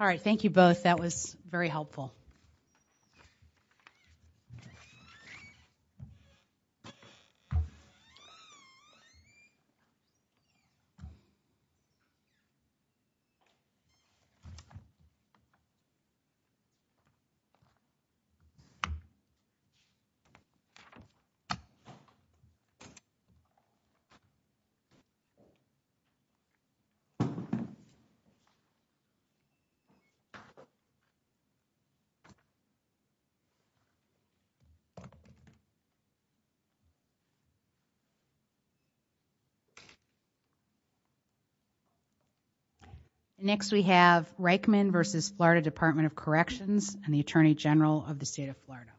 All right, thank you both. That was very helpful. Next, we have Riechmann v. Florida, Department of Corrections and the Attorney General of the State of Florida.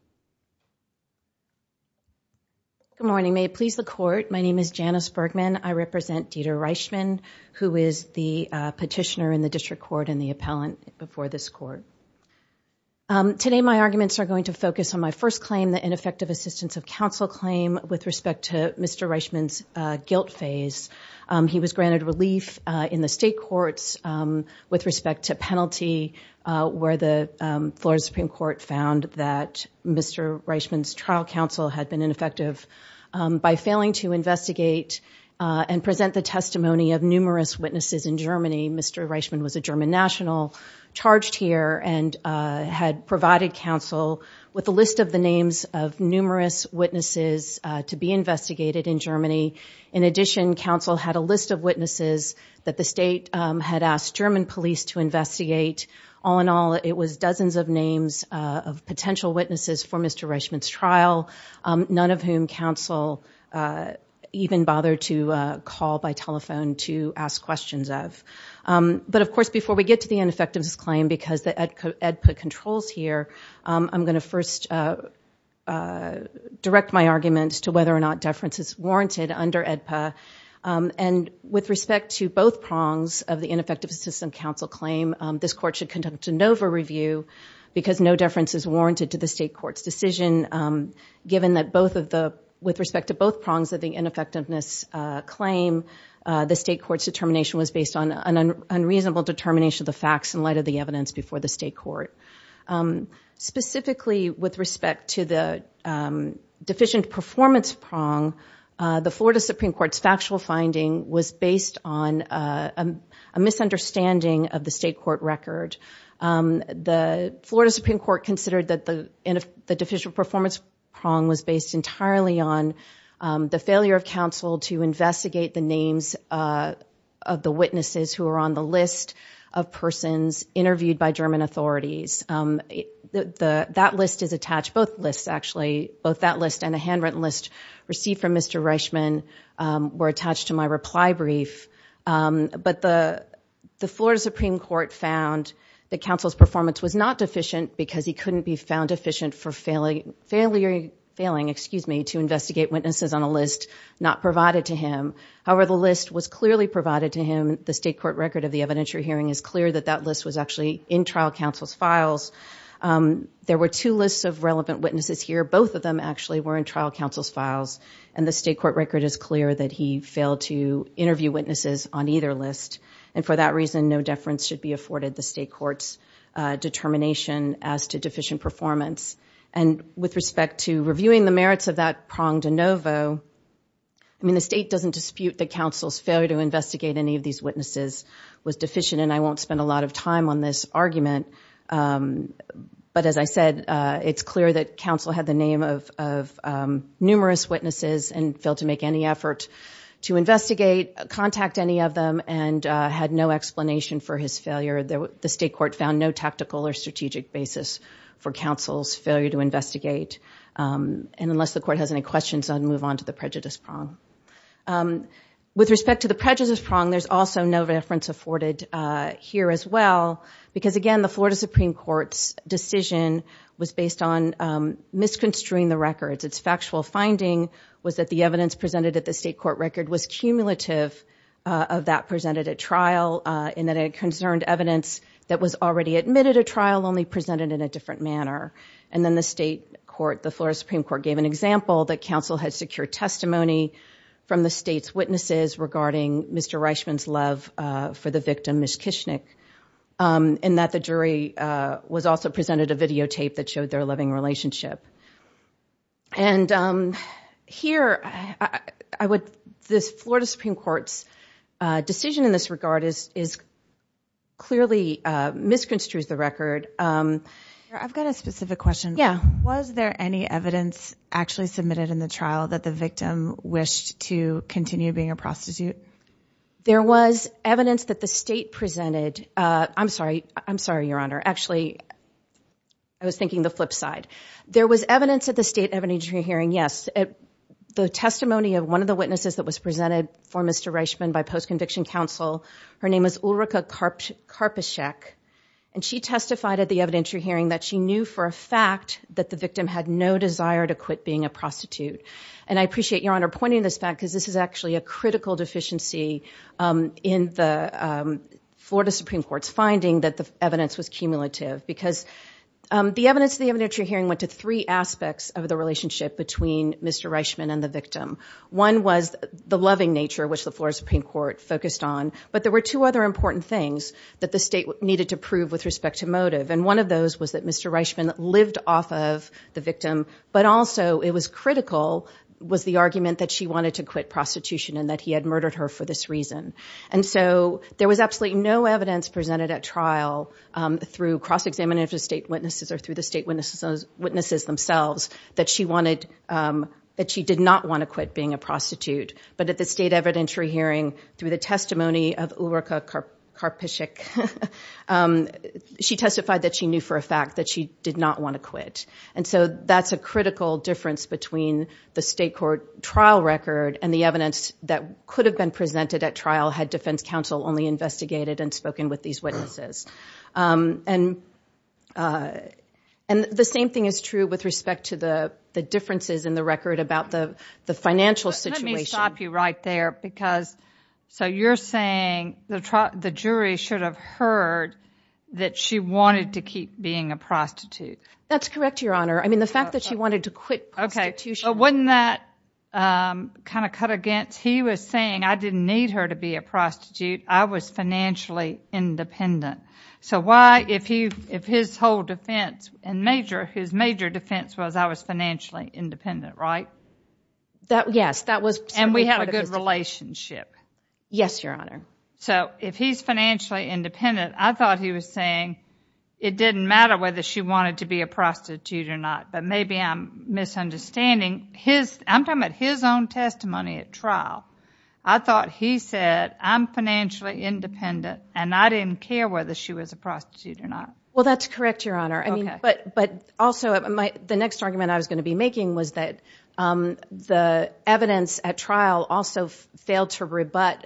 Good morning. May it please the Court, my name is Janice Bergman. I represent Dieter Riechmann, who is the petitioner in the District Court and the appellant before this Court. Today my arguments are going to focus on my first claim, the ineffective assistance of counsel claim with respect to Mr. Riechmann's guilt phase. He was granted relief in the state courts with respect to penalty where the Florida Supreme Court found that Mr. Riechmann's trial counsel had been ineffective by failing to investigate and present the testimony of numerous witnesses in Germany. Mr. Riechmann was a German national charged here and had provided counsel with a list of the names of numerous witnesses to be investigated in Germany. In addition, counsel had a list of witnesses that the state had asked German police to investigate. All in all, it was dozens of names of potential witnesses for Mr. Riechmann's trial, none of whom counsel even bothered to call by telephone to ask questions of. But, of course, before we get to the ineffectiveness claim, because the AEDPA controls here, I'm going to first direct my arguments to whether or not deference is warranted under AEDPA. With respect to both prongs of the ineffective assistance of counsel claim, this Court should given that with respect to both prongs of the ineffectiveness claim, the state court's determination was based on an unreasonable determination of the facts in light of the evidence before the state court. Specifically, with respect to the deficient performance prong, the Florida Supreme Court's factual finding was based on a misunderstanding of the state court record. The Florida Supreme Court considered that the deficient performance prong was based entirely on the failure of counsel to investigate the names of the witnesses who were on the list of persons interviewed by German authorities. That list is attached, both lists, actually, both that list and a handwritten list received from Mr. Riechmann were attached to my found that counsel's performance was not deficient because he couldn't be found deficient for failing to investigate witnesses on a list not provided to him. However, the list was clearly provided to him. The state court record of the evidentiary hearing is clear that that list was actually in trial counsel's files. There were two lists of relevant witnesses here. Both of them actually were in trial counsel's files, and the state court record is clear that he failed to court's determination as to deficient performance. With respect to reviewing the merits of that prong de novo, the state doesn't dispute that counsel's failure to investigate any of these witnesses was deficient. I won't spend a lot of time on this argument, but as I said, it's clear that counsel had the name of numerous witnesses and failed to make any effort to investigate, contact any of them, and had no explanation for his failure. The state court found no tactical or strategic basis for counsel's failure to investigate, and unless the court has any questions, I'll move on to the prejudice prong. With respect to the prejudice prong, there's also no reference afforded here as well because, again, the Florida Supreme Court's decision was based on misconstruing the records. Its factual finding was that the evidence presented at the state court record was cumulative of that presented at trial, and that it concerned evidence that was already admitted at trial, only presented in a different manner. And then the state court, the Florida Supreme Court, gave an example that counsel had secured testimony from the state's witnesses regarding Mr. Reichman's love for the victim, Ms. Kishnick, and that the jury was also presented a videotape that showed their loving relationship. And here, I would, this Florida Supreme Court's decision in this regard is clearly, misconstrues the record. I've got a specific question. Yeah. Was there any evidence actually submitted in the trial that the victim wished to continue being a prostitute? There was evidence that the state presented, I'm sorry, I'm sorry, Your Honor, actually, I was thinking the flip side. There was evidence at the state evidentiary hearing, yes, the testimony of one of the witnesses that was presented for Mr. Reichman by post-conviction counsel, her name was Ulrika Karpyshek, and she testified at the evidentiary hearing that she knew for a fact that the victim had no desire to quit being a prostitute. And I appreciate, Your Honor, pointing this back because this is actually a critical deficiency in the Florida Supreme Court's finding that the evidence was cumulative, because the evidence of the evidentiary hearing went to three aspects of the relationship between Mr. Reichman and the victim. One was the loving nature, which the Florida Supreme Court focused on, but there were two other important things that the state needed to prove with respect to motive. And one of those was that Mr. Reichman lived off of the victim, but also it was critical, was the argument that she wanted to quit prostitution and that he had murdered her for this reason. And so there was absolutely no evidence presented at trial through cross-examination of the state witnesses or through the state witnesses themselves that she did not want to quit being a prostitute. But at the state evidentiary hearing, through the testimony of Ulrika Karpyshek, she testified that she knew for a fact that she did not want to quit. And so that's a critical difference between the state court trial record and the evidence that could have been presented at trial had defense counsel only investigated and spoken with these witnesses. And the same thing is true with respect to the differences in the record about the financial situation. Let me stop you right there, because so you're saying the jury should have heard that she wanted to keep being a prostitute. That's correct, Your Honor. I mean, the fact that she to be a prostitute, I was financially independent. So why, if his whole defense and major, his major defense was I was financially independent, right? Yes, that was. And we had a good relationship. Yes, Your Honor. So if he's financially independent, I thought he was saying it didn't matter whether she wanted to be a prostitute or not. But maybe I'm misunderstanding. I'm talking about his own testimony at trial. I thought he said, I'm financially independent and I didn't care whether she was a prostitute or not. Well, that's correct, Your Honor. But also, the next argument I was going to be making was that the evidence at trial also failed to rebut,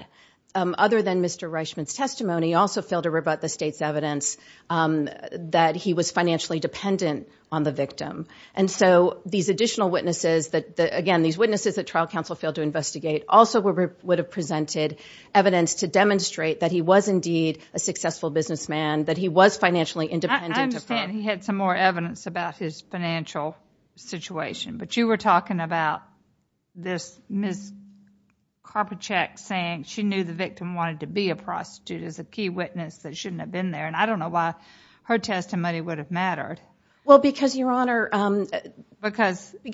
other than Mr. Reichman's testimony, also failed to rebut the state's evidence that he was financially dependent on the victim. And so these additional witnesses that again, these witnesses at trial counsel failed to investigate also would have presented evidence to demonstrate that he was indeed a successful businessman, that he was financially independent. I understand he had some more evidence about his financial situation, but you were talking about this Ms. Karpochek saying she knew the victim wanted to be a prostitute as a key witness that shouldn't have been there. And I don't know why her testimony would have mattered. Well, because Your Honor... Because she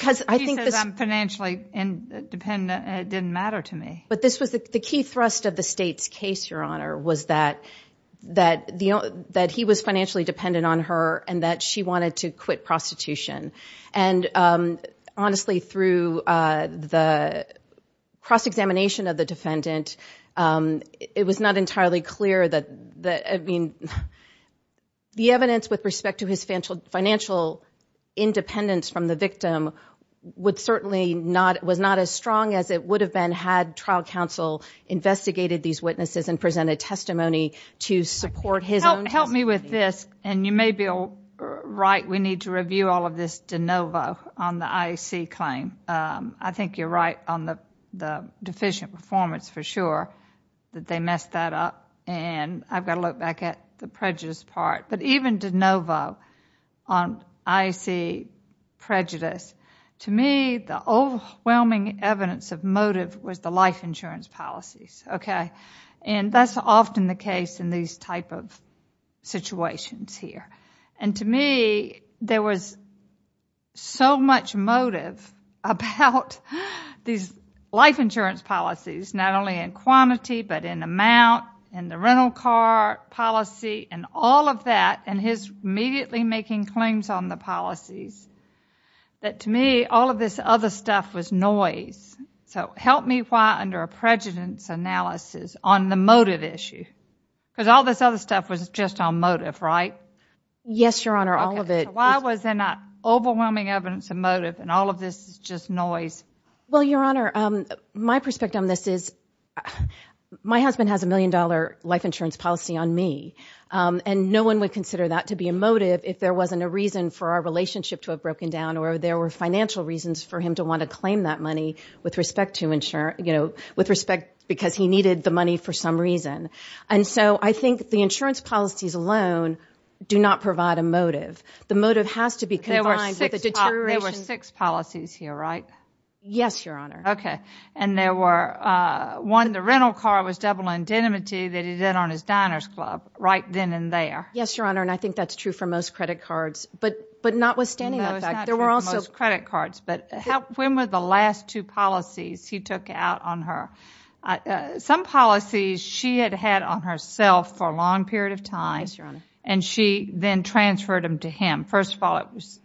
says I'm financially independent and it didn't matter to me. But this was the key thrust of the state's case, Your Honor, was that he was financially dependent on her and that she wanted to quit prostitution. And honestly, through the cross-examination of the defendant, it was not entirely clear that, I mean, the evidence with respect to his financial independence from the victim would certainly not, was not as strong as it would have been had trial counsel investigated these witnesses and presented testimony to support his own... Help me with this, and you may be right, we need to review all of this de novo on the IAC claim. I think you're right on the deficient performance for sure that they messed that up, and I've got to look back at the prejudice part. But even de novo on IAC prejudice, to me, the overwhelming evidence of motive was the life insurance policies, okay? And that's often the case in these type of situations here. And to me, there was so much motive about these life insurance policies, not only in quantity, but in amount, in the rental car policy, and all of that, and his immediately making claims on the policies, that to me, all of this other stuff was noise. So help me why, under a prejudice analysis, on the motive issue, because all this other stuff was just on motive, right? Yes, Your Honor, all of it. Why was there not overwhelming evidence of motive, and all of this is just noise? Well, Your Honor, my perspective on this is, my husband has a million dollar life insurance policy on me, and no one would consider that to be a motive if there wasn't a reason for our relationship to have broken down, or there were financial reasons for him to want to claim that money with respect to insurance, you know, with respect, because he needed the money for some reason. And so I think the insurance policies alone do not provide a motive. The motive has to be combined with the deterioration. There were six policies here, right? Yes, Your Honor. Okay. And there were, one, the rental car was double indemnity that he did on his diner's club, right then and there. Yes, Your Honor, and I think that's true for most credit cards, but when were the last two policies he took out on her? Some policies she had had on herself for a long period of time, and she then transferred them to him. First of all, it was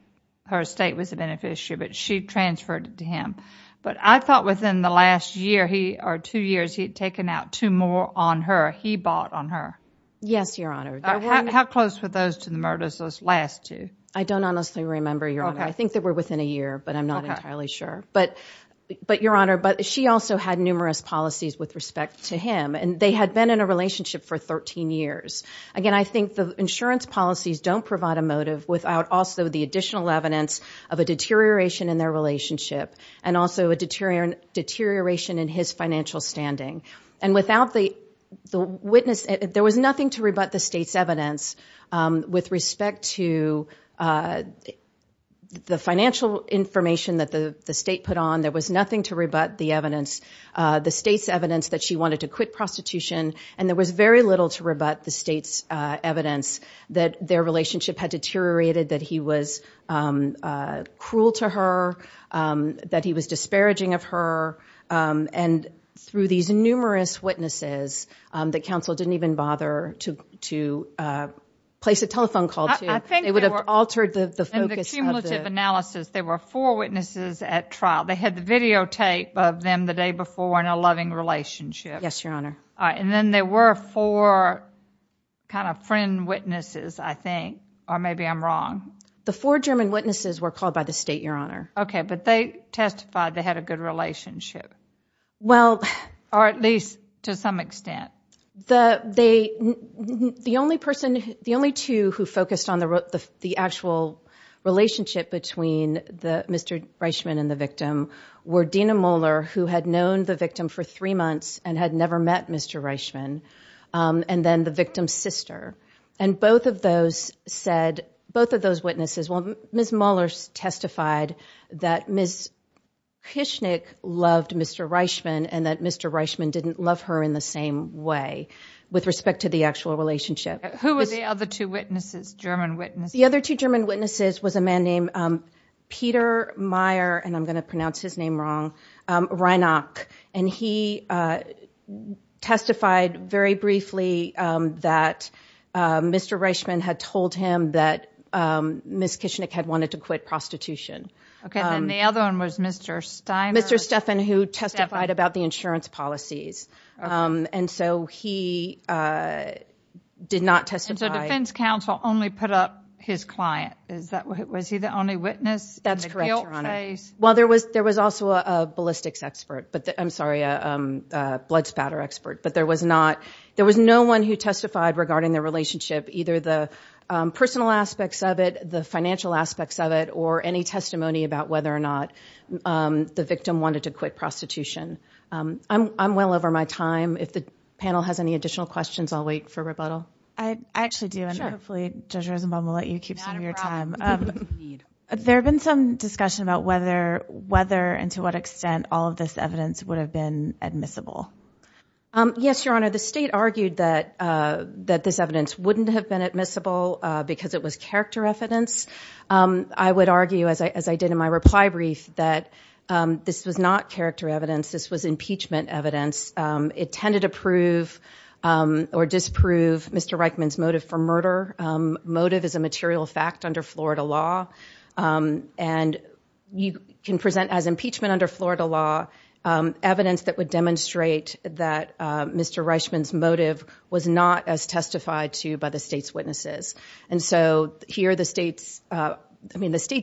her estate was a beneficiary, but she transferred it to him. But I thought within the last year, he, or two years, he had taken out two more on her. He bought on her. Yes, Your Honor. How close were those to the murders, those last two? I don't honestly remember, Your Honor. I think they were within a year, but I'm not entirely sure. But Your Honor, she also had numerous policies with respect to him, and they had been in a relationship for 13 years. Again, I think the insurance policies don't provide a motive without also the additional evidence of a deterioration in their relationship and also a deterioration in his financial standing. And without the witness, there was nothing to that the state put on. There was nothing to rebut the evidence, the state's evidence that she wanted to quit prostitution, and there was very little to rebut the state's evidence that their relationship had deteriorated, that he was cruel to her, that he was disparaging of her. And through these numerous witnesses that counsel didn't even bother to place a telephone call to, they would have altered the focus. In the cumulative analysis, there were four witnesses at trial. They had the videotape of them the day before in a loving relationship. Yes, Your Honor. All right, and then there were four kind of friend witnesses, I think, or maybe I'm wrong. The four German witnesses were called by the state, Your Honor. Okay, but they testified they had a good relationship, or at least to some extent. The only person, the only two who focused on the actual relationship between Mr. Reichman and the victim were Dina Moeller, who had known the victim for three months and had never met Mr. Reichman, and then the victim's sister. And both of those said, both of those witnesses, well, Ms. Moeller testified that Ms. Kishnik loved Mr. Reichman and that Mr. Reichman didn't love her in the same way, with respect to the actual relationship. Who were the other two witnesses, German witnesses? The other two German witnesses was a man named Peter Meyer, and I'm going to pronounce his name wrong, Reinach, and he testified very briefly that Mr. Reichman had told him that Ms. Kishnik had wanted to quit prostitution. Okay, then the other one was Mr. Steiner. Mr. Steffan, who testified about the insurance policies, and so he did not testify. And so defense counsel only put up his client. Was he the only witness? That's correct, Your Honor. Well, there was also a ballistics expert, I'm sorry, a blood spatter expert, but there was no one who testified regarding the relationship, either the personal aspects of it, the financial aspects of it, or any testimony about whether or not the victim wanted to quit prostitution. I'm well over my time. If the panel has any additional questions, I'll wait for rebuttal. I actually do, and hopefully Judge Rosenbaum will let you keep some of your time. There have been some discussion about whether and to what extent all of this evidence would have been admissible. Yes, Your Honor, the state argued that this evidence wouldn't have been admissible because it was character evidence. I would argue, as I did in my reply brief, that this was not character evidence. This was impeachment evidence. It tended to prove or disprove Mr. Reichman's motive for murder. Motive is a material fact under Florida law, and you can present as impeachment under Florida law evidence that would demonstrate that Mr. Reichman's motive was not as testified to by the state's witnesses. And so here the state's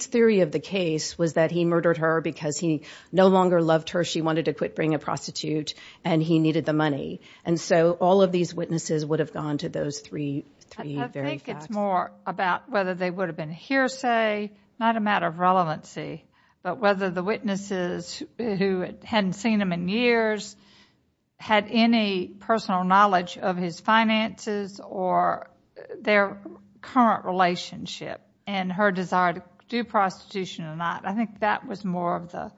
theory of the case was that he murdered her because he no longer loved her. She wanted to quit being a prostitute, and he needed the money. And so all of these witnesses would have gone to those three very facts. I think it's more about whether they would have been hearsay, not a matter of relevancy, but whether the witnesses who hadn't seen him in years had any personal knowledge of his finances or their current relationship and her desire to do prostitution or not. I think that was more of the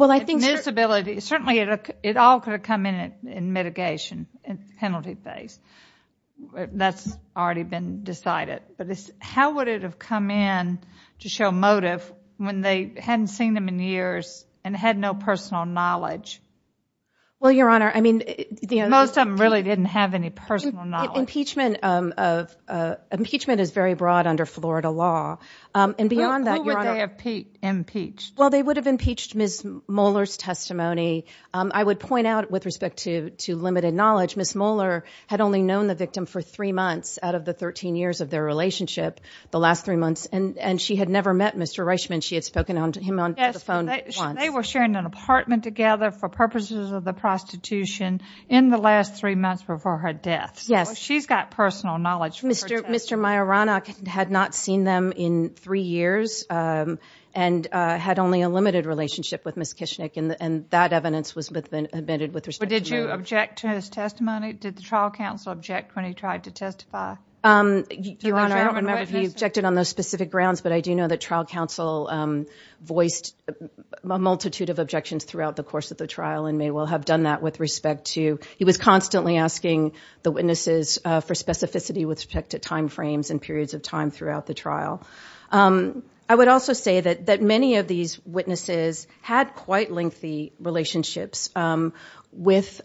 admissibility. Certainly it all could have come in in mitigation, in penalty phase. That's already been decided. How would it have come in to show motive when they hadn't seen them in years and had no personal knowledge Well, Your Honor, I mean... Most of them really didn't have any personal knowledge. Impeachment is very broad under Florida law. And beyond that, Your Honor... Who would they have impeached? Well, they would have impeached Ms. Moeller's testimony. I would point out with respect to limited knowledge, Ms. Moeller had only known the victim for three months out of the 13 years of their relationship, the last three months, and she had never met Mr. Reichman. She had spoken to him on the phone once. They were sharing an apartment together for purposes of the prostitution in the last three months before her death. Yes. She's got personal knowledge. Mr. Majorana had not seen them in three years and had only a limited relationship with Ms. Kishnick, and that evidence was admitted with respect to... But did you object to his testimony? Did the trial counsel object when he tried to testify? Your Honor, I don't remember if he objected on those specific grounds, but I do a multitude of objections throughout the course of the trial and may well have done that with respect to... He was constantly asking the witnesses for specificity with respect to timeframes and periods of time throughout the trial. I would also say that many of these witnesses had quite lengthy relationships with both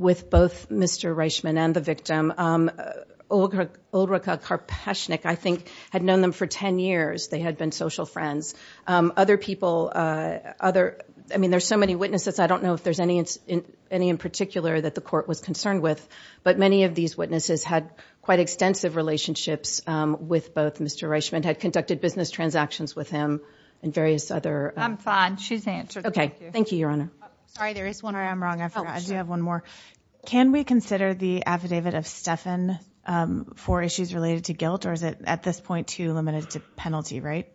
Mr. Reichman and the victim. Ulrike Karpashnick, I think, had known them for 10 years. They had been social friends. Other people... I mean, there's so many witnesses. I don't know if there's any in particular that the court was concerned with, but many of these witnesses had quite extensive relationships with both Mr. Reichman, had conducted business transactions with him and various other... I'm fine. She's answered. Okay. Thank you, Your Honor. Sorry, there is one, or I'm wrong. I forgot. I do have one more. Can we consider the affidavit of Stefan for issues related to guilt, or is it at this point too limited to penalty, right?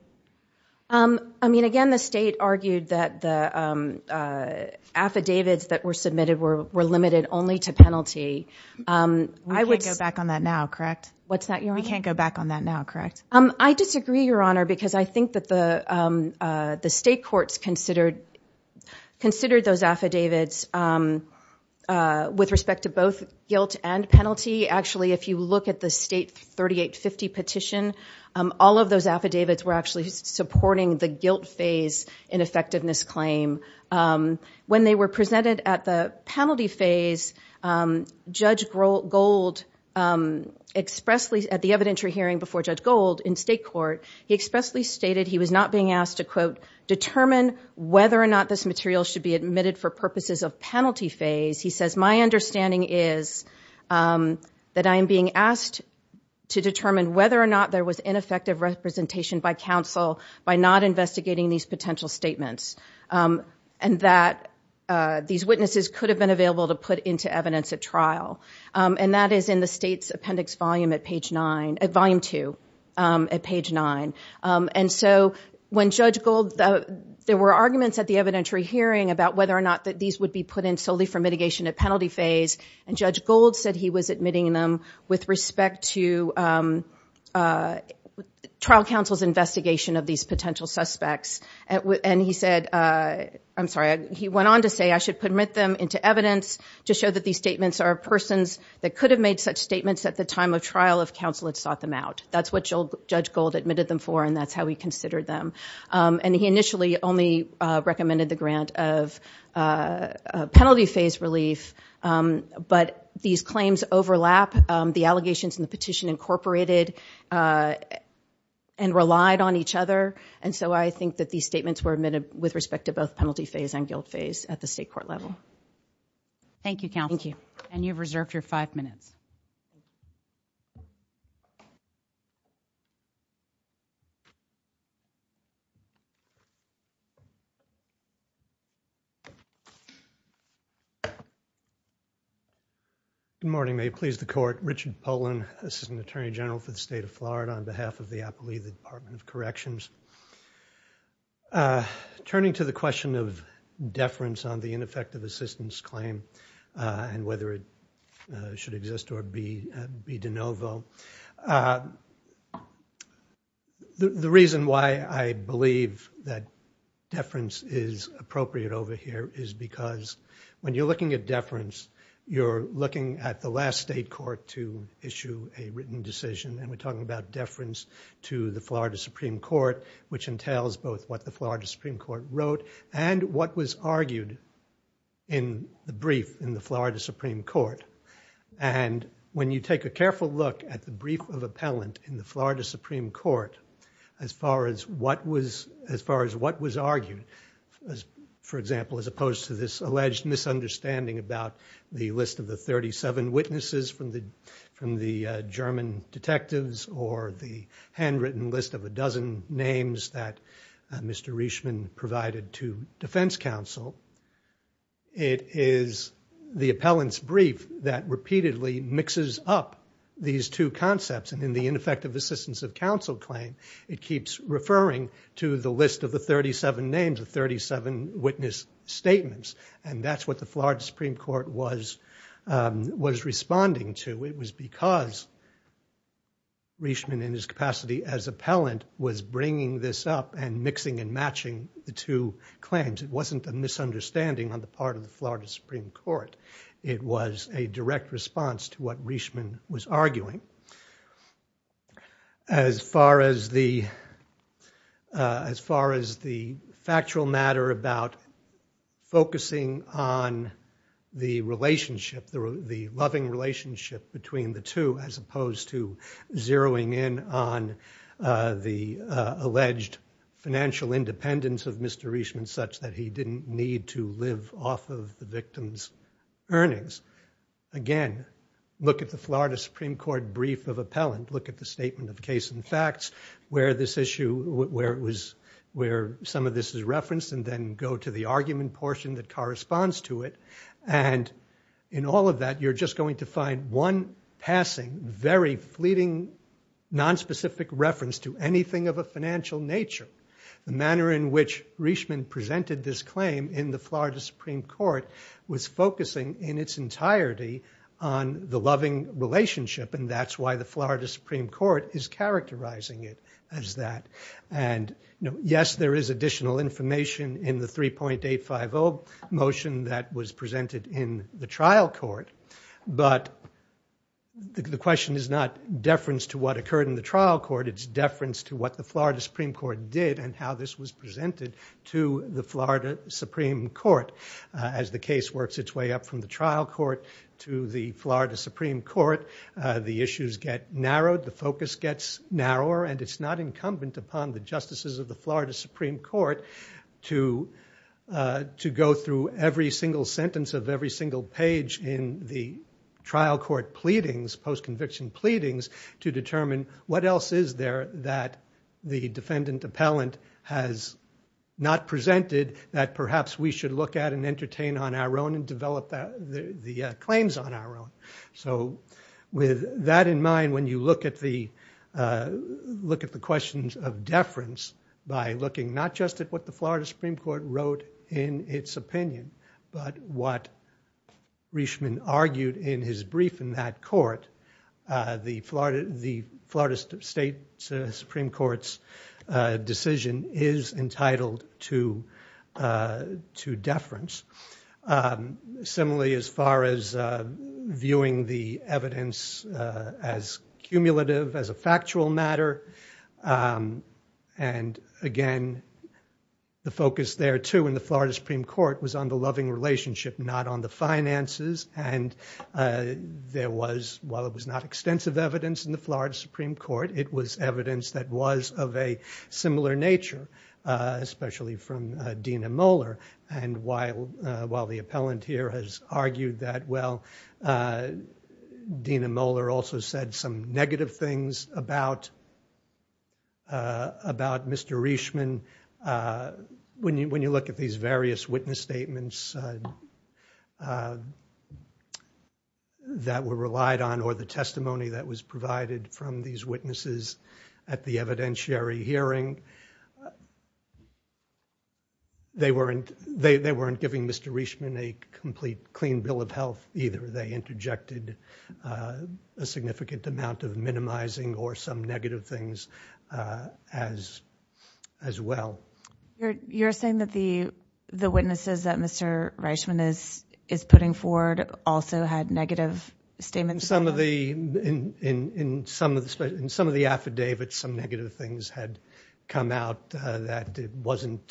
I mean, again, the state argued that the affidavits that were submitted were limited only to penalty. We can't go back on that now, correct? What's that, Your Honor? We can't go back on that now, correct? I disagree, Your Honor, because I think that the state courts considered those affidavits with respect to both guilt and penalty. Actually, if you look at the state 3850 petition, all of those affidavits were actually supporting the guilt phase in effectiveness claim. When they were presented at the penalty phase, Judge Gold expressly, at the evidentiary hearing before Judge Gold in state court, he expressly stated he was not being asked to, quote, determine whether or not this material should be admitted for purposes of penalty phase. He says, my understanding is that I am being asked to determine whether or not there was ineffective representation by counsel by not investigating these potential statements, and that these witnesses could have been available to put into evidence at trial. And that is in the state's appendix volume at page 9, at volume 2 at page 9. And so when Judge Gold, there were arguments at the evidentiary hearing about whether or not these would be put in solely for mitigation at penalty phase, and Judge Gold said he was admitting them with respect to trial counsel's investigation of these potential suspects. And he said, I'm sorry, he went on to say, I should permit them into evidence to show that these statements are persons that could have made such statements at the time of trial if counsel had sought them out. That's what Judge Gold admitted them for, and that's how he considered them. And he initially only recommended the grant of penalty phase relief, but these claims overlap. The allegations in the petition incorporated and relied on each other, and so I think that these statements were admitted with respect to both penalty phase and guilt phase at the state court level. Thank you, counsel. Thank you. And you've reserved your five minutes. Good morning. May it please the Court. Richard Polin, Assistant Attorney General for the State of Florida on behalf of the Applea, the Department of Corrections. Turning to the question of deference on the ineffective assistance claim and whether it should exist or be de novo. The reason why I believe that deference is appropriate over here is because when you're looking at deference, you're looking at the last state court to issue a written decision, and we're talking about deference to the Florida Supreme Court, which entails both what the Florida Supreme Court wrote and what was argued in the brief in the Florida Supreme Court. And when you take a brief of appellant in the Florida Supreme Court, as far as what was argued, for example, as opposed to this alleged misunderstanding about the list of the 37 witnesses from the German detectives or the handwritten list of a dozen names that Mr. Richman provided to defense counsel, it is the two concepts. And in the ineffective assistance of counsel claim, it keeps referring to the list of the 37 names, the 37 witness statements. And that's what the Florida Supreme Court was responding to. It was because Richman, in his capacity as appellant, was bringing this up and mixing and matching the two claims. It wasn't a misunderstanding on the part of the Florida Supreme Court. It was a direct response to what Richman was arguing. As far as the factual matter about focusing on the relationship, the loving relationship between the two, as opposed to zeroing in on the alleged financial independence of Mr. Richman such that he didn't need to live off of the victim's earnings, again, look at the Florida Supreme Court brief of appellant. Look at the statement of case and facts where some of this is referenced and then go to the argument portion that corresponds to it. And in all of that, you're just going to find one passing, very fleeting, nonspecific reference to anything of a financial nature. The manner in which Richman presented this claim in the Florida Supreme Court was focusing in its entirety on the loving relationship, and that's why the Florida Supreme Court is characterizing it as that. Yes, there is additional information in the 3.850 motion that was presented in the trial court, but the question is not deference to what occurred in the trial court. It's deference to what the the Florida Supreme Court. As the case works its way up from the trial court to the Florida Supreme Court, the issues get narrowed, the focus gets narrower, and it's not incumbent upon the justices of the Florida Supreme Court to go through every single sentence of every single page in the trial court pleadings, post-conviction pleadings, to determine what else is there that the defendant appellant has not presented that perhaps we should look at and entertain on our own and develop the claims on our own. So with that in mind, when you look at the questions of deference by looking not just at what the Florida Supreme Court wrote in its opinion, but what Richman argued in his brief in that court, the Florida State Supreme Court's decision is entitled to deference. Similarly, as far as viewing the evidence as cumulative, as a factual matter, and again, the focus there too in the Florida Supreme Court was on the loving relationship, not on the finances, and there was, while it was not extensive evidence in the Florida Supreme Court, it was evidence that was of a similar nature, especially from Dena Moeller, and while the appellant here has argued that well, Dena Moeller also said some negative things about Mr. Richman, when you look at these various witness statements that were relied on or the testimony that was provided from these witnesses at the evidentiary hearing, they weren't giving Mr. Richman a complete clean bill of health either. They interjected a significant amount of minimizing or some negative things as well. You're saying that the witnesses that Mr. Richman is putting forward also had negative statements? In some of the affidavits, some negative things had come out that it wasn't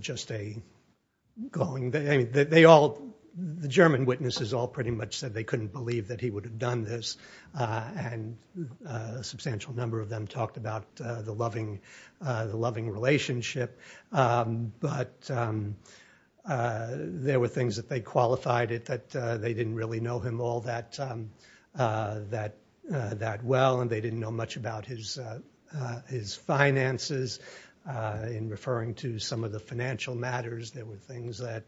just a glowing, I mean, they all, the German witnesses all pretty much said they couldn't believe that he would have done this, and a substantial number of them talked about the loving relationship, but there were things that they qualified it that they didn't really know all that well, and they didn't know much about his finances. In referring to some of the financial matters, there were things that,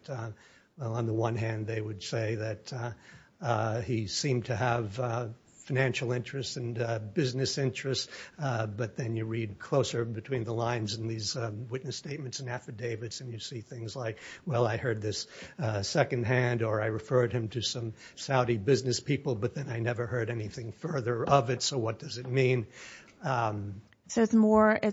well, on the one hand, they would say that he seemed to have financial interests and business interests, but then you read closer between the lines in these witness statements and affidavits, and you see things like, well, I heard this second hand, or I referred him to some Saudi business people, but then I never heard anything further of it, so what does it mean? It's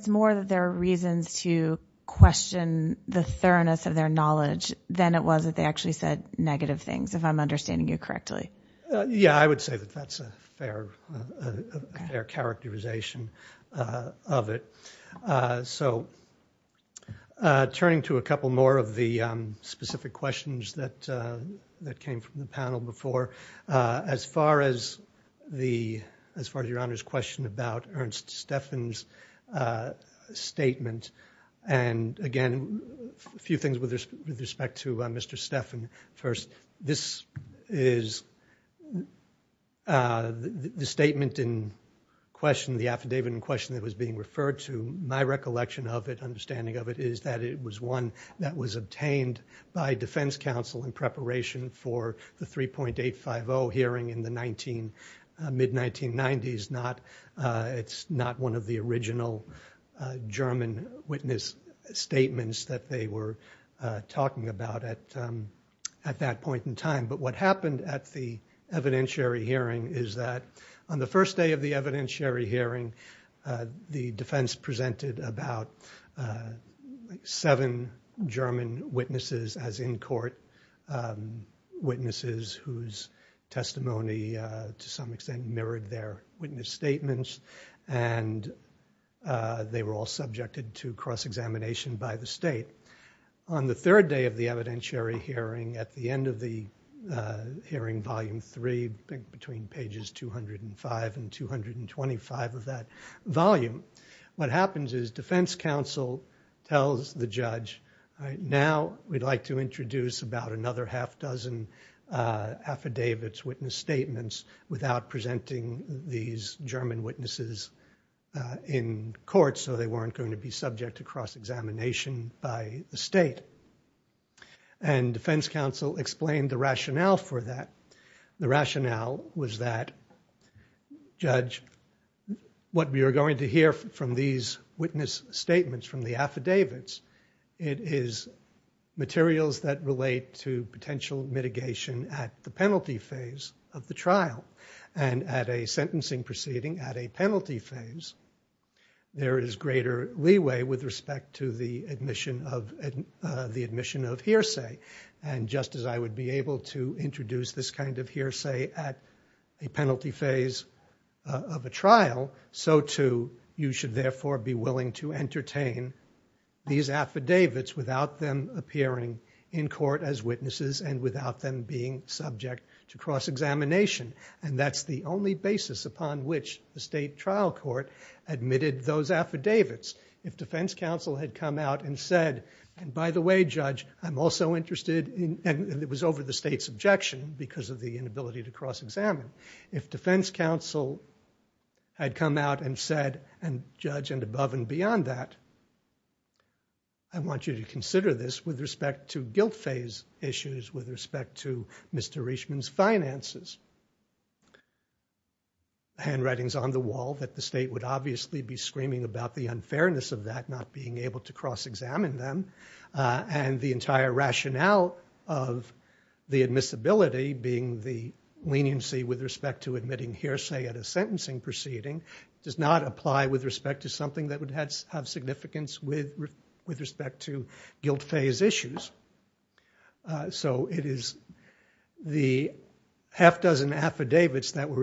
more that there are reasons to question the thoroughness of their knowledge than it was that they actually said negative things, if I'm understanding you correctly. Yeah, I would say that that's a fair characterization of it. Turning to a couple more of the specific questions that came from the panel before, as far as your Honor's question about Ernst Steffen's statement, and again, a few things with respect to Mr. Steffen. First, this is the statement in question, the affidavit in question that was being referred to, my recollection of it, understanding of it, is that it was one that was obtained by defense counsel in preparation for the 3.850 hearing in the mid-1990s. It's not one of the original German witness statements that they were talking about at that point in time, but what happened at the evidentiary hearing is that on the first day of the evidentiary hearing, the defense presented about seven German witnesses as in-court witnesses whose testimony, to some extent, mirrored their witness statements, and they were all subjected to cross-examination by the state. On the third day of the evidentiary hearing, at the end of the hearing, volume three, between pages 205 and 225 of that volume, what happens is defense counsel tells the judge, now we'd like to introduce about another half dozen affidavits, witness statements, without presenting these German witnesses in court, so they weren't going to be subject to cross-examination by the state, and defense counsel explained the rationale for that. The rationale was that, judge, what we are going to hear from these witness statements, from the affidavits, it is materials that relate to potential mitigation at the penalty phase of the trial, and at a sentencing proceeding, at a penalty phase, there is greater leeway with respect to the admission of hearsay, and just as I would be able to introduce this kind of hearsay at a penalty phase of a trial, so too you should therefore be willing to entertain these affidavits without them appearing in court as witnesses and without them being subject to cross-examination, and that's the only basis upon which the state admitted those affidavits. If defense counsel had come out and said, and by the way, judge, I'm also interested in, and it was over the state's objection because of the inability to cross-examine, if defense counsel had come out and said, and judge, and above and beyond that, I want you to consider this with respect to guilt phase issues, with respect to Mr. Richman's state would obviously be screaming about the unfairness of that, not being able to cross-examine them, and the entire rationale of the admissibility being the leniency with respect to admitting hearsay at a sentencing proceeding does not apply with respect to something that would have significance with respect to guilt phase issues, so it is the half dozen affidavits that were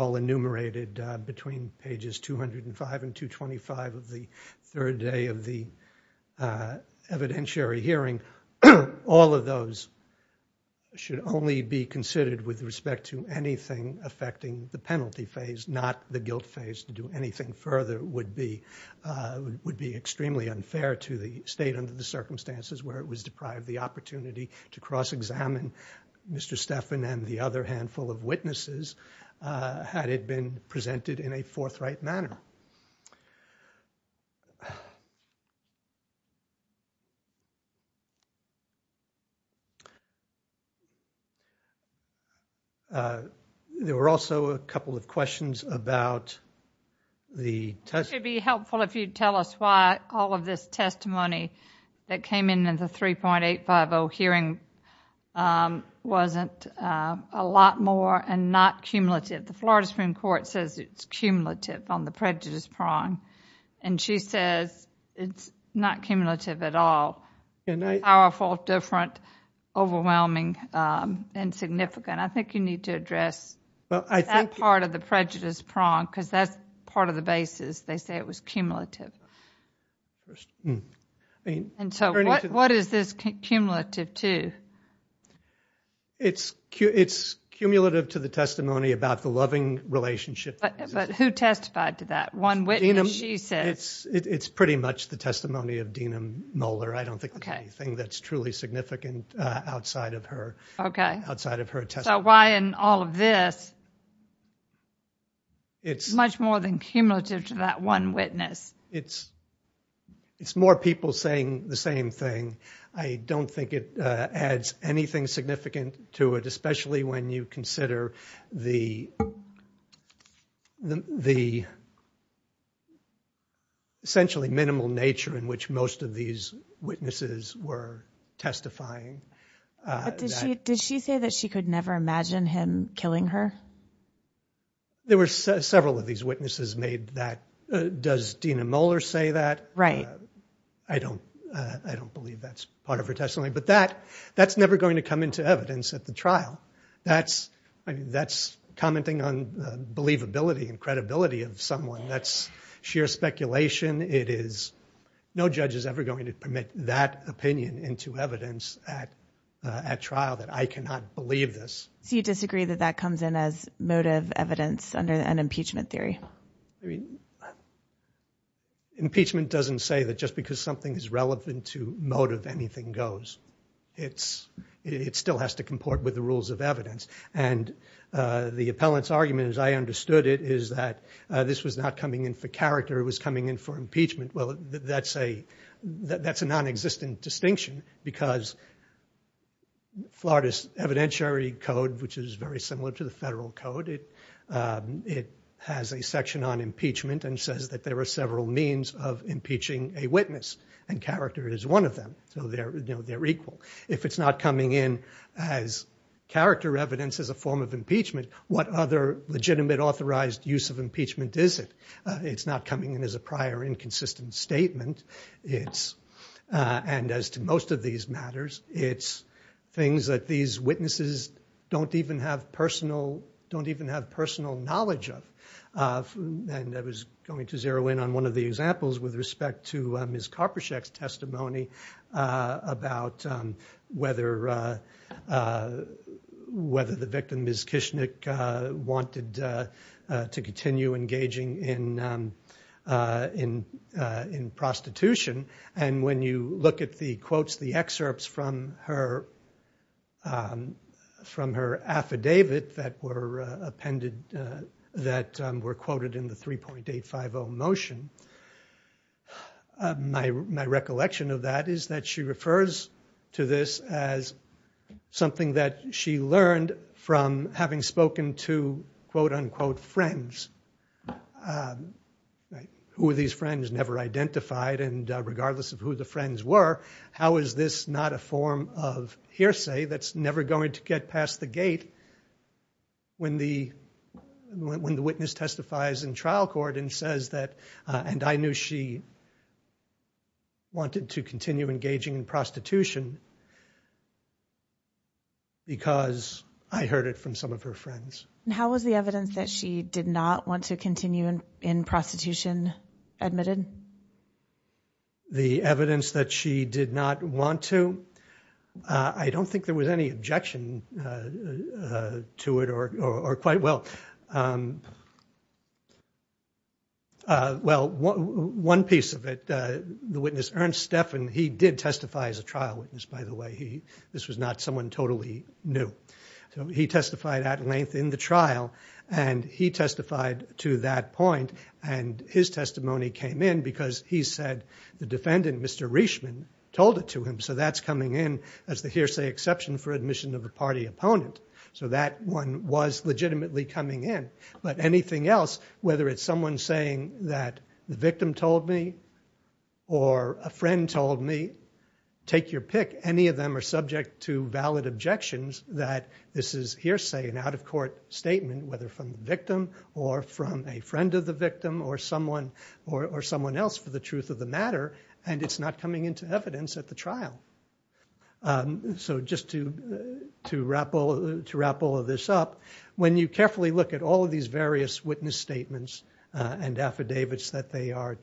all enumerated between pages 205 and 225 of the third day of the evidentiary hearing. All of those should only be considered with respect to anything affecting the penalty phase, not the guilt phase. To do anything further would be extremely unfair to the state under the circumstances where it was deprived the opportunity to cross-examine Mr. Stephan and the other handful of witnesses had it been presented in a forthright manner. There were also a couple of questions about the test. It would be helpful if you tell us why all of this testimony that came in the 3.850 hearing wasn't a lot more and not cumulative. The Florida Supreme Court says it's cumulative on the prejudice prong, and she says it's not cumulative at all. Powerful, different, overwhelming, and significant. I think you need to address that part of the prejudice prong because that's part of the basis. They say it was cumulative. What is this cumulative to? It's cumulative to the testimony about the loving relationship. But who testified to that? One witness, she says. It's pretty much the testimony of Dena Moeller. I don't think there's anything that's truly significant outside of her testimony. So why in all of this? It's much more than cumulative to that one witness. It's more people saying the same thing. I don't think it adds anything significant to it, especially when you consider the essentially minimal nature in which most of these witnesses were testifying. Did she say that she could never imagine him killing her? There were several of these witnesses made that. Does Dena Moeller say that? I don't believe that's part of her testimony, but that's never going to come into evidence at the trial. That's commenting on the believability and credibility of someone. That's sheer speculation. No judge is ever going to permit that opinion into evidence at trial that I cannot believe this. So you disagree that that comes in as motive evidence under an impeachment theory? Impeachment doesn't say that just because something is relevant to motive, anything goes. It still has to comport with the rules of evidence. And the appellant's argument, as I understood it, is that this was not coming in for character. It was coming in for impeachment. Well, that's a non-existent distinction because Florida's evidentiary code, which is very similar to the federal code, it has a section on impeachment and says that there are several means of impeaching a witness, and character is one of them. So they're equal. If it's not coming in as character evidence as a form of impeachment, what other legitimate authorized use of impeachment is it? It's not coming in as a prior inconsistent statement. It's, and as to most of these matters, it's things that these witnesses don't even have personal knowledge of. And I was going to zero in on one of the examples with respect to Ms. Karpyshek's testimony about whether the victim, Ms. Kishnik, wanted to continue engaging in prostitution. And when you look at the quotes, the excerpts from her affidavit that were quoted in the 3.850 motion, my recollection of that is that she refers to this as something that she learned from having spoken to quote-unquote friends. Who are these friends never identified, and regardless of who the friends were, how is this not a form of hearsay that's never going to get past the gate when the witness testifies in trial court and says that, and I knew she wanted to continue engaging in prostitution because I heard it from some of her friends. And how was the evidence that she did not want to continue in prostitution admitted? The evidence that she did not want to, I don't think there was any objection to it or quite well. Well, one piece of it, the witness, Ernst Steffen, he did testify as a trial witness, by the way. This was not someone totally new. So he testified at length in the trial, and he testified to that point, and his testimony came in because he said the defendant, Mr. Reishman, told it to him. So that's coming in as the hearsay exception for admission of party opponent. So that one was legitimately coming in. But anything else, whether it's someone saying that the victim told me or a friend told me, take your pick. Any of them are subject to valid objections that this is hearsay, an out-of-court statement, whether from the victim or from a friend of the victim or someone else for the truth of the matter, and it's not coming into evidence at the trial. So just to wrap all of this up, when you carefully look at all of these various witness statements and affidavits that they are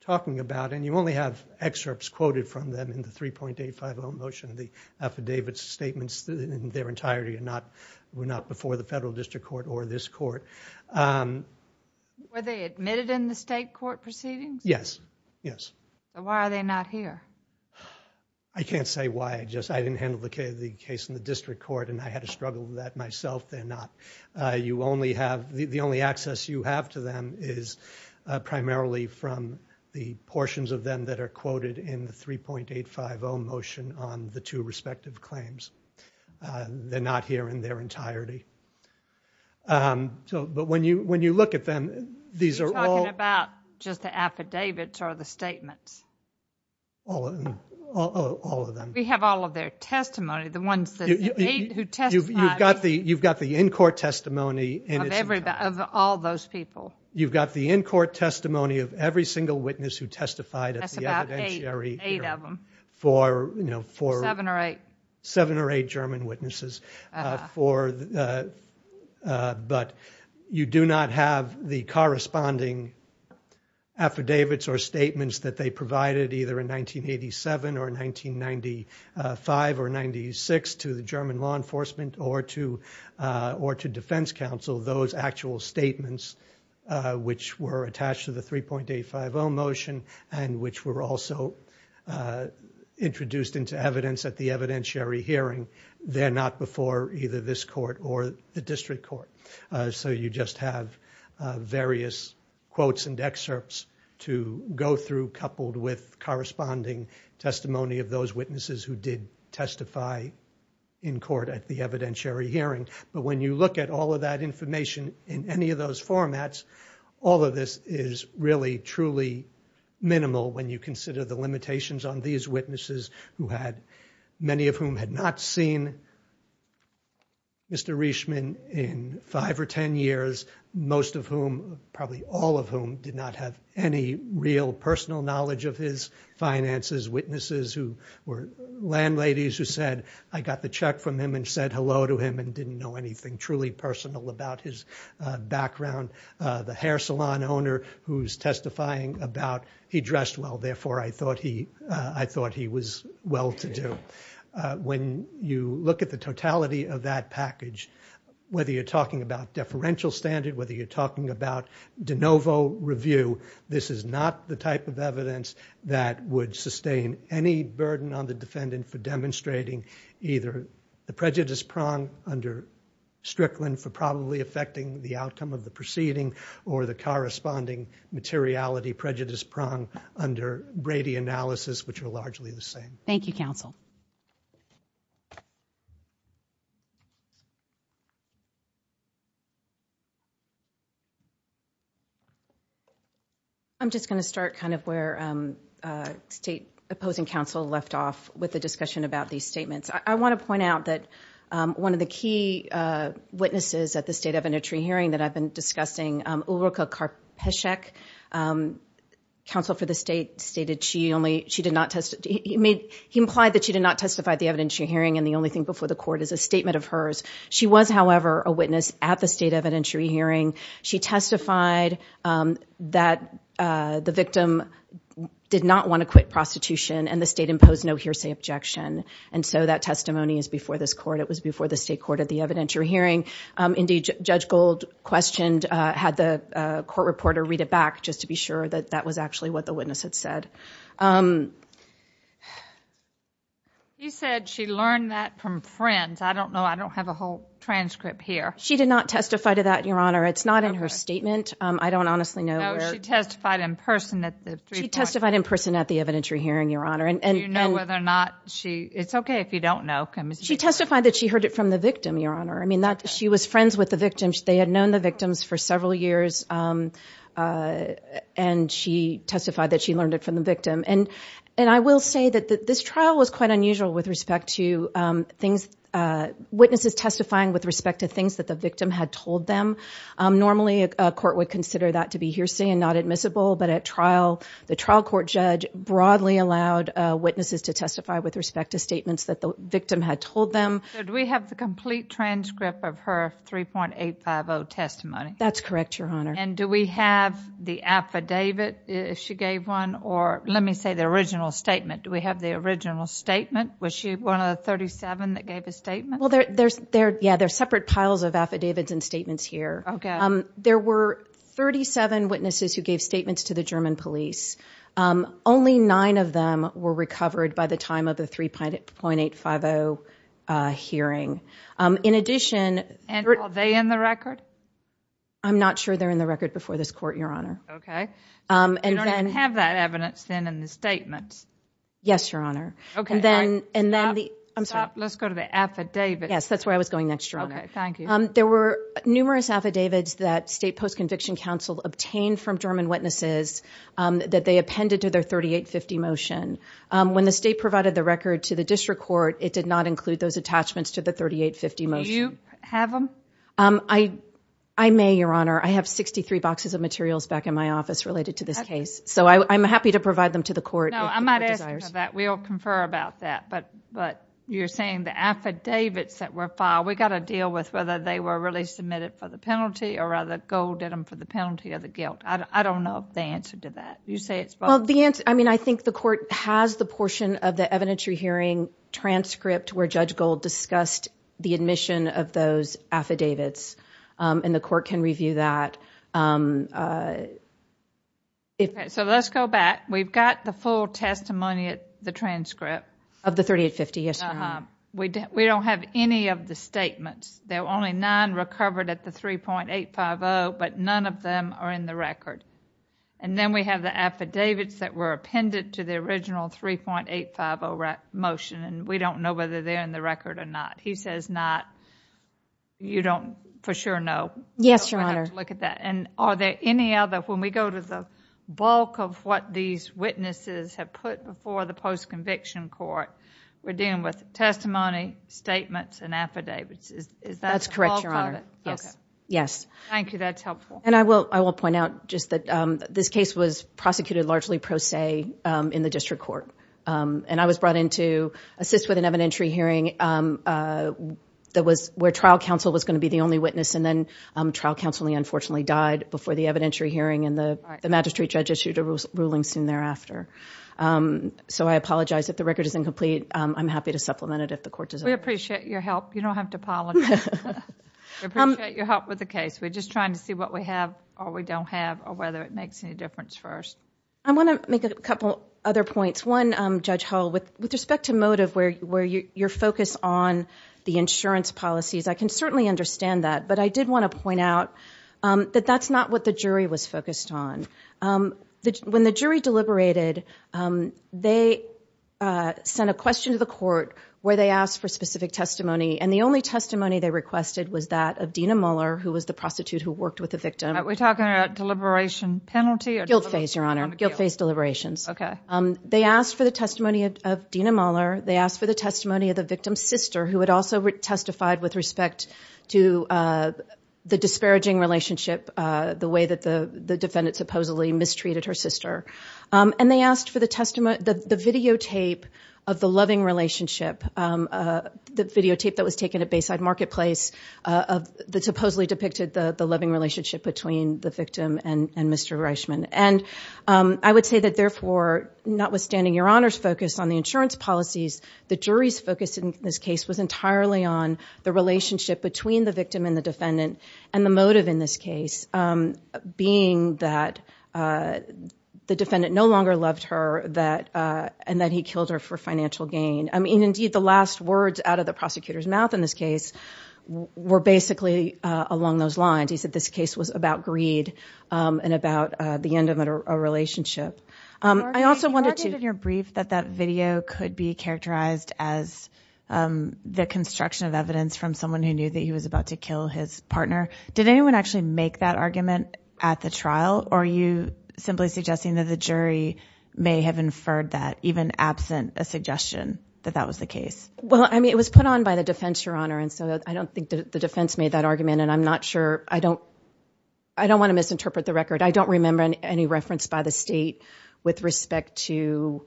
talking about, and you only have excerpts quoted from them in the 3.850 motion of the affidavit statements in their entirety and not before the federal district court or this court. Were they admitted in the state court proceedings? Yes. Yes. So why are they not here? I can't say why. I just, I didn't handle the case in the district court and I had a struggle with that myself. They're not, you only have, the only access you have to them is primarily from the portions of them that are quoted in the 3.850 motion on the two respective claims. They're not here in their entirety. So, but when you, when you look at them, these are all... You're talking about just the affidavits or the statements? All of them, all of them. We have all of their testimony, the ones that they, who testified... You've got the, you've got the in-court testimony... Of every, of all those people. You've got the in-court testimony of every single witness who testified at the evidentiary... That's about eight, eight of them. For, you know, for... Seven or eight. Seven or eight German witnesses for... But you do not have the corresponding affidavits or statements that they provided either in 1987 or 1995 or 96 to the German law enforcement or to, or to defense counsel, those actual statements which were attached to the 3.850 motion and which were also introduced into evidence at the evidentiary hearing. They're not before either this court or the district court. So you just have various quotes and excerpts to go through coupled with corresponding testimony of those witnesses who did testify in court at the evidentiary hearing. But when you look at all of that information in any of those formats, all of this is really truly minimal when you consider the limitations on these witnesses who had, many of whom had not seen Mr. Reishman in five or ten years, most of whom, probably all of whom, did not have any real personal knowledge of his finances. Witnesses who were landladies who said, I got the check from him and said hello to him and didn't know anything truly personal about his background, the hair salon owner who's testifying about, he dressed well, therefore I thought he, I thought he was well-to-do. When you look at the totality of that package, whether you're talking about deferential standard, whether you're talking about de novo review, this is not the type of evidence that would sustain any burden on the defendant for demonstrating either the prejudice prong under Strickland for probably affecting the outcome of the proceeding or the corresponding materiality prejudice prong under Brady analysis which are largely the same. Thank you, counsel. I'm just going to start kind of where state opposing counsel left off with the discussion about these statements. I want to point out that one of the key witnesses at the state evidentiary hearing that I've been discussing, Ulrika Karpyshek, counsel for the state stated she only, she did not test, he made, he implied that she did not testify at the evidentiary hearing and the only thing before the court is a statement of hers. She was, however, a witness at the state evidentiary hearing. She testified that the victim did not want to quit prostitution and the state imposed no hearsay objection. And so that testimony is before this court. It was before the state court at the evidentiary hearing. Indeed, Judge Gold questioned, had the court reporter read it back just to be sure that that was actually what the witness had said. You said she learned that from friends. I don't know. I don't have a whole transcript here. She did not testify to that, Your Honor. It's not in her statement. I don't honestly know. No, she testified in person at the three point. Do you know whether or not she, it's okay if you don't know. She testified that she heard it from the victim, Your Honor. I mean, she was friends with the victim. They had known the victims for several years and she testified that she learned it from the victim. And I will say that this trial was quite unusual with respect to things, witnesses testifying with respect to things that the victim had told them. Normally, a court would consider that to be hearsay and not admissible, but at trial, the trial court judge broadly allowed witnesses to testify with respect to statements that the victim had told them. So do we have the complete transcript of her 3.850 testimony? That's correct, Your Honor. And do we have the affidavit if she gave one or let me say the original statement? Do we have the original statement? Was she one of the 37 that gave a statement? Well, there's, there, yeah, there's separate piles of affidavits and statements here. Okay. There were 37 witnesses who gave statements to the German police. Only nine of them were recovered by the time of the 3.850 hearing. In addition... And are they in the record? I'm not sure they're in the record before this court, Your Honor. Okay. And then... You don't even have that evidence then in the statements. Yes, Your Honor. Okay. And then, and then the... I'm sorry. Let's go to the affidavit. Yes, that's where I was going next, Your Honor. Okay, thank you. There were numerous affidavits that state post-conviction council obtained from German witnesses that they appended to their 3.850 motion. When the state provided the record to the district court, it did not include those attachments to the 3.850 motion. Do you have them? I may, Your Honor. I have 63 boxes of materials back in my office related to this case. So I'm happy to provide them to the court. No, I might ask for that. We'll confer about that. But, but you're saying the affidavits that were filed, we got to deal with whether they were really submitted for the penalty or rather Gold did them for the penalty of the guilt. I don't know the answer to that. You say it's both? Well, the answer, I mean, I think the court has the portion of the evidentiary hearing transcript where Judge Gold discussed the admission of those affidavits. And the court can review that. Okay, so let's go back. We've got the full testimony at the transcript. Of the 3.850, yes, Your Honor. We don't have any of the statements. There were only nine recovered at the 3.850, but none of them are in the record. And then we have the affidavits that were appended to the original 3.850 motion, and we don't know whether they're in the record or not. He says not. You don't for sure know. Yes, Your Honor. And are there any other, when we go to the bulk of what these witnesses have put before the post-conviction court, we're dealing with testimony, statements, and affidavits. That's correct, Your Honor. Okay. Yes. Thank you. That's helpful. And I will point out just that this case was prosecuted largely pro se in the district court. And I was brought in to assist with an evidentiary hearing that was where trial counsel was going to be the only witness, and then trial counseling unfortunately died before the evidentiary hearing, and the magistrate judge issued a ruling soon thereafter. So I apologize if the record is incomplete. I'm happy to supplement it if the court desires. We appreciate your help. You don't have to apologize. We appreciate your help with the case. We're just trying to see what we have or we don't have or whether it makes any difference for us. I want to make a couple other points. One, Judge Hull, with respect to motive where you're focused on the insurance policies, I can certainly understand that, but I did want to point out that that's not what the jury was focused on. When the jury deliberated, they sent a question to the court where they asked for the testimony, and the only testimony they requested was that of Dina Muller, who was the prostitute who worked with the victim. Are we talking about deliberation penalty? Guilt phase, Your Honor. Guilt phase deliberations. Okay. They asked for the testimony of Dina Muller. They asked for the testimony of the victim's sister, who had also testified with respect to the disparaging relationship, the way that the defendant supposedly mistreated her sister. And they asked for the videotape of the loving relationship, the videotape that was taken at Bayside Marketplace that supposedly depicted the loving relationship between the victim and Mr. Reichman. And I would say that, therefore, notwithstanding Your Honor's focus on the insurance policies, the jury's focus in this case was entirely on the relationship between the victim and the defendant, and the motive in this case being that the defendant no longer loved her, and that he killed her for financial gain. I mean, indeed, the last words out of the prosecutor's mouth in this case were basically along those lines. He said this case was about greed and about the end of a relationship. He argued in your brief that that video could be characterized as the construction of evidence from someone who knew that he was about to kill his partner. Did anyone actually make that argument at the trial, or are you simply suggesting that the jury may have inferred that, even absent a suggestion? Well, I mean, it was put on by the defense, Your Honor, and so I don't think the defense made that argument, and I don't want to misinterpret the record. I don't remember any reference by the state with respect to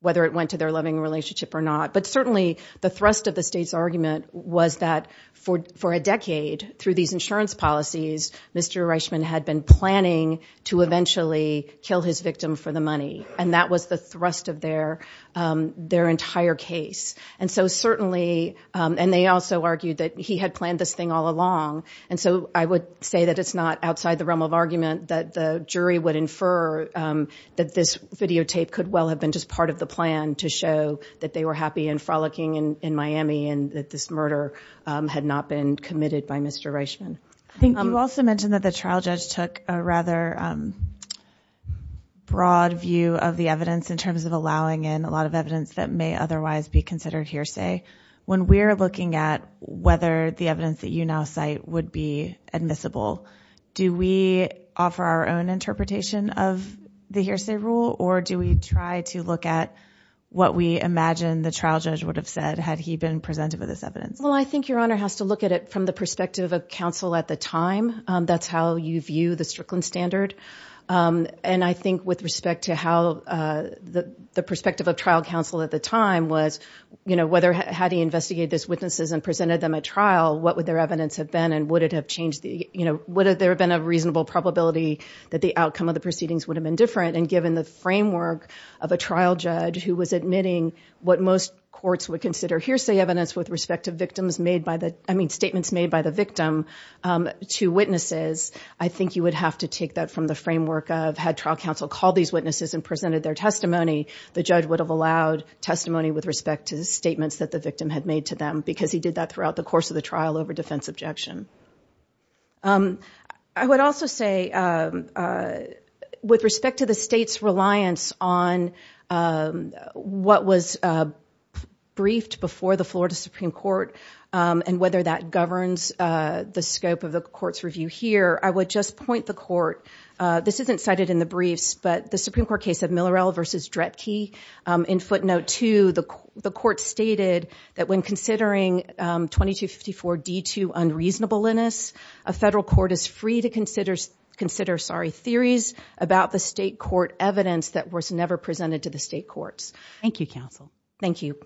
whether it went to their loving relationship or not. But certainly, the thrust of the state's argument was that for a decade, through these insurance policies, Mr. Reichman had been planning to eventually kill his victim for the money. And that was the thrust of their entire case. And so certainly, and they also argued that he had planned this thing all along, and so I would say that it's not outside the realm of argument that the jury would infer that this videotape could well have been just part of the plan to show that they were happy and frolicking in Miami and that this murder had not been committed by Mr. Reichman. I think you also mentioned that the trial judge took a rather broad view of the evidence in terms of allowing in a lot of evidence that may otherwise be considered hearsay. When we're looking at whether the evidence that you now cite would be admissible, do we offer our own interpretation of the hearsay rule, or do we try to look at what we imagine the trial judge would have said had he been presented with this evidence? Well, I think Your Honor has to look at it from the perspective of counsel at the time. That's how you view the Strickland standard. And I think with respect to how the perspective of trial counsel at the time was, you know, whether had he investigated these witnesses and presented them at trial, what would their evidence have been, and would it have changed the, you know, would there have been a reasonable probability that the outcome of the proceedings would have been different? And given the framework of a trial judge who was admitting what most courts would consider evidence with respect to statements made by the victim to witnesses, I think you would have to take that from the framework of had trial counsel called these witnesses and presented their testimony, the judge would have allowed testimony with respect to the statements that the victim had made to them, because he did that throughout the course of the trial over defense objection. I would also say with respect to the state's reliance on what was briefed before the Florida Supreme Court and whether that governs the scope of the court's review here, I would just point the court, this isn't cited in the briefs, but the Supreme Court case of Millerel v. Dretke in footnote two, the court stated that when considering 2254 D2 unreasonable in this, a federal court is free to consider, sorry, theories about the state court evidence that was never presented to the state courts. Thank you, counsel. Thank you.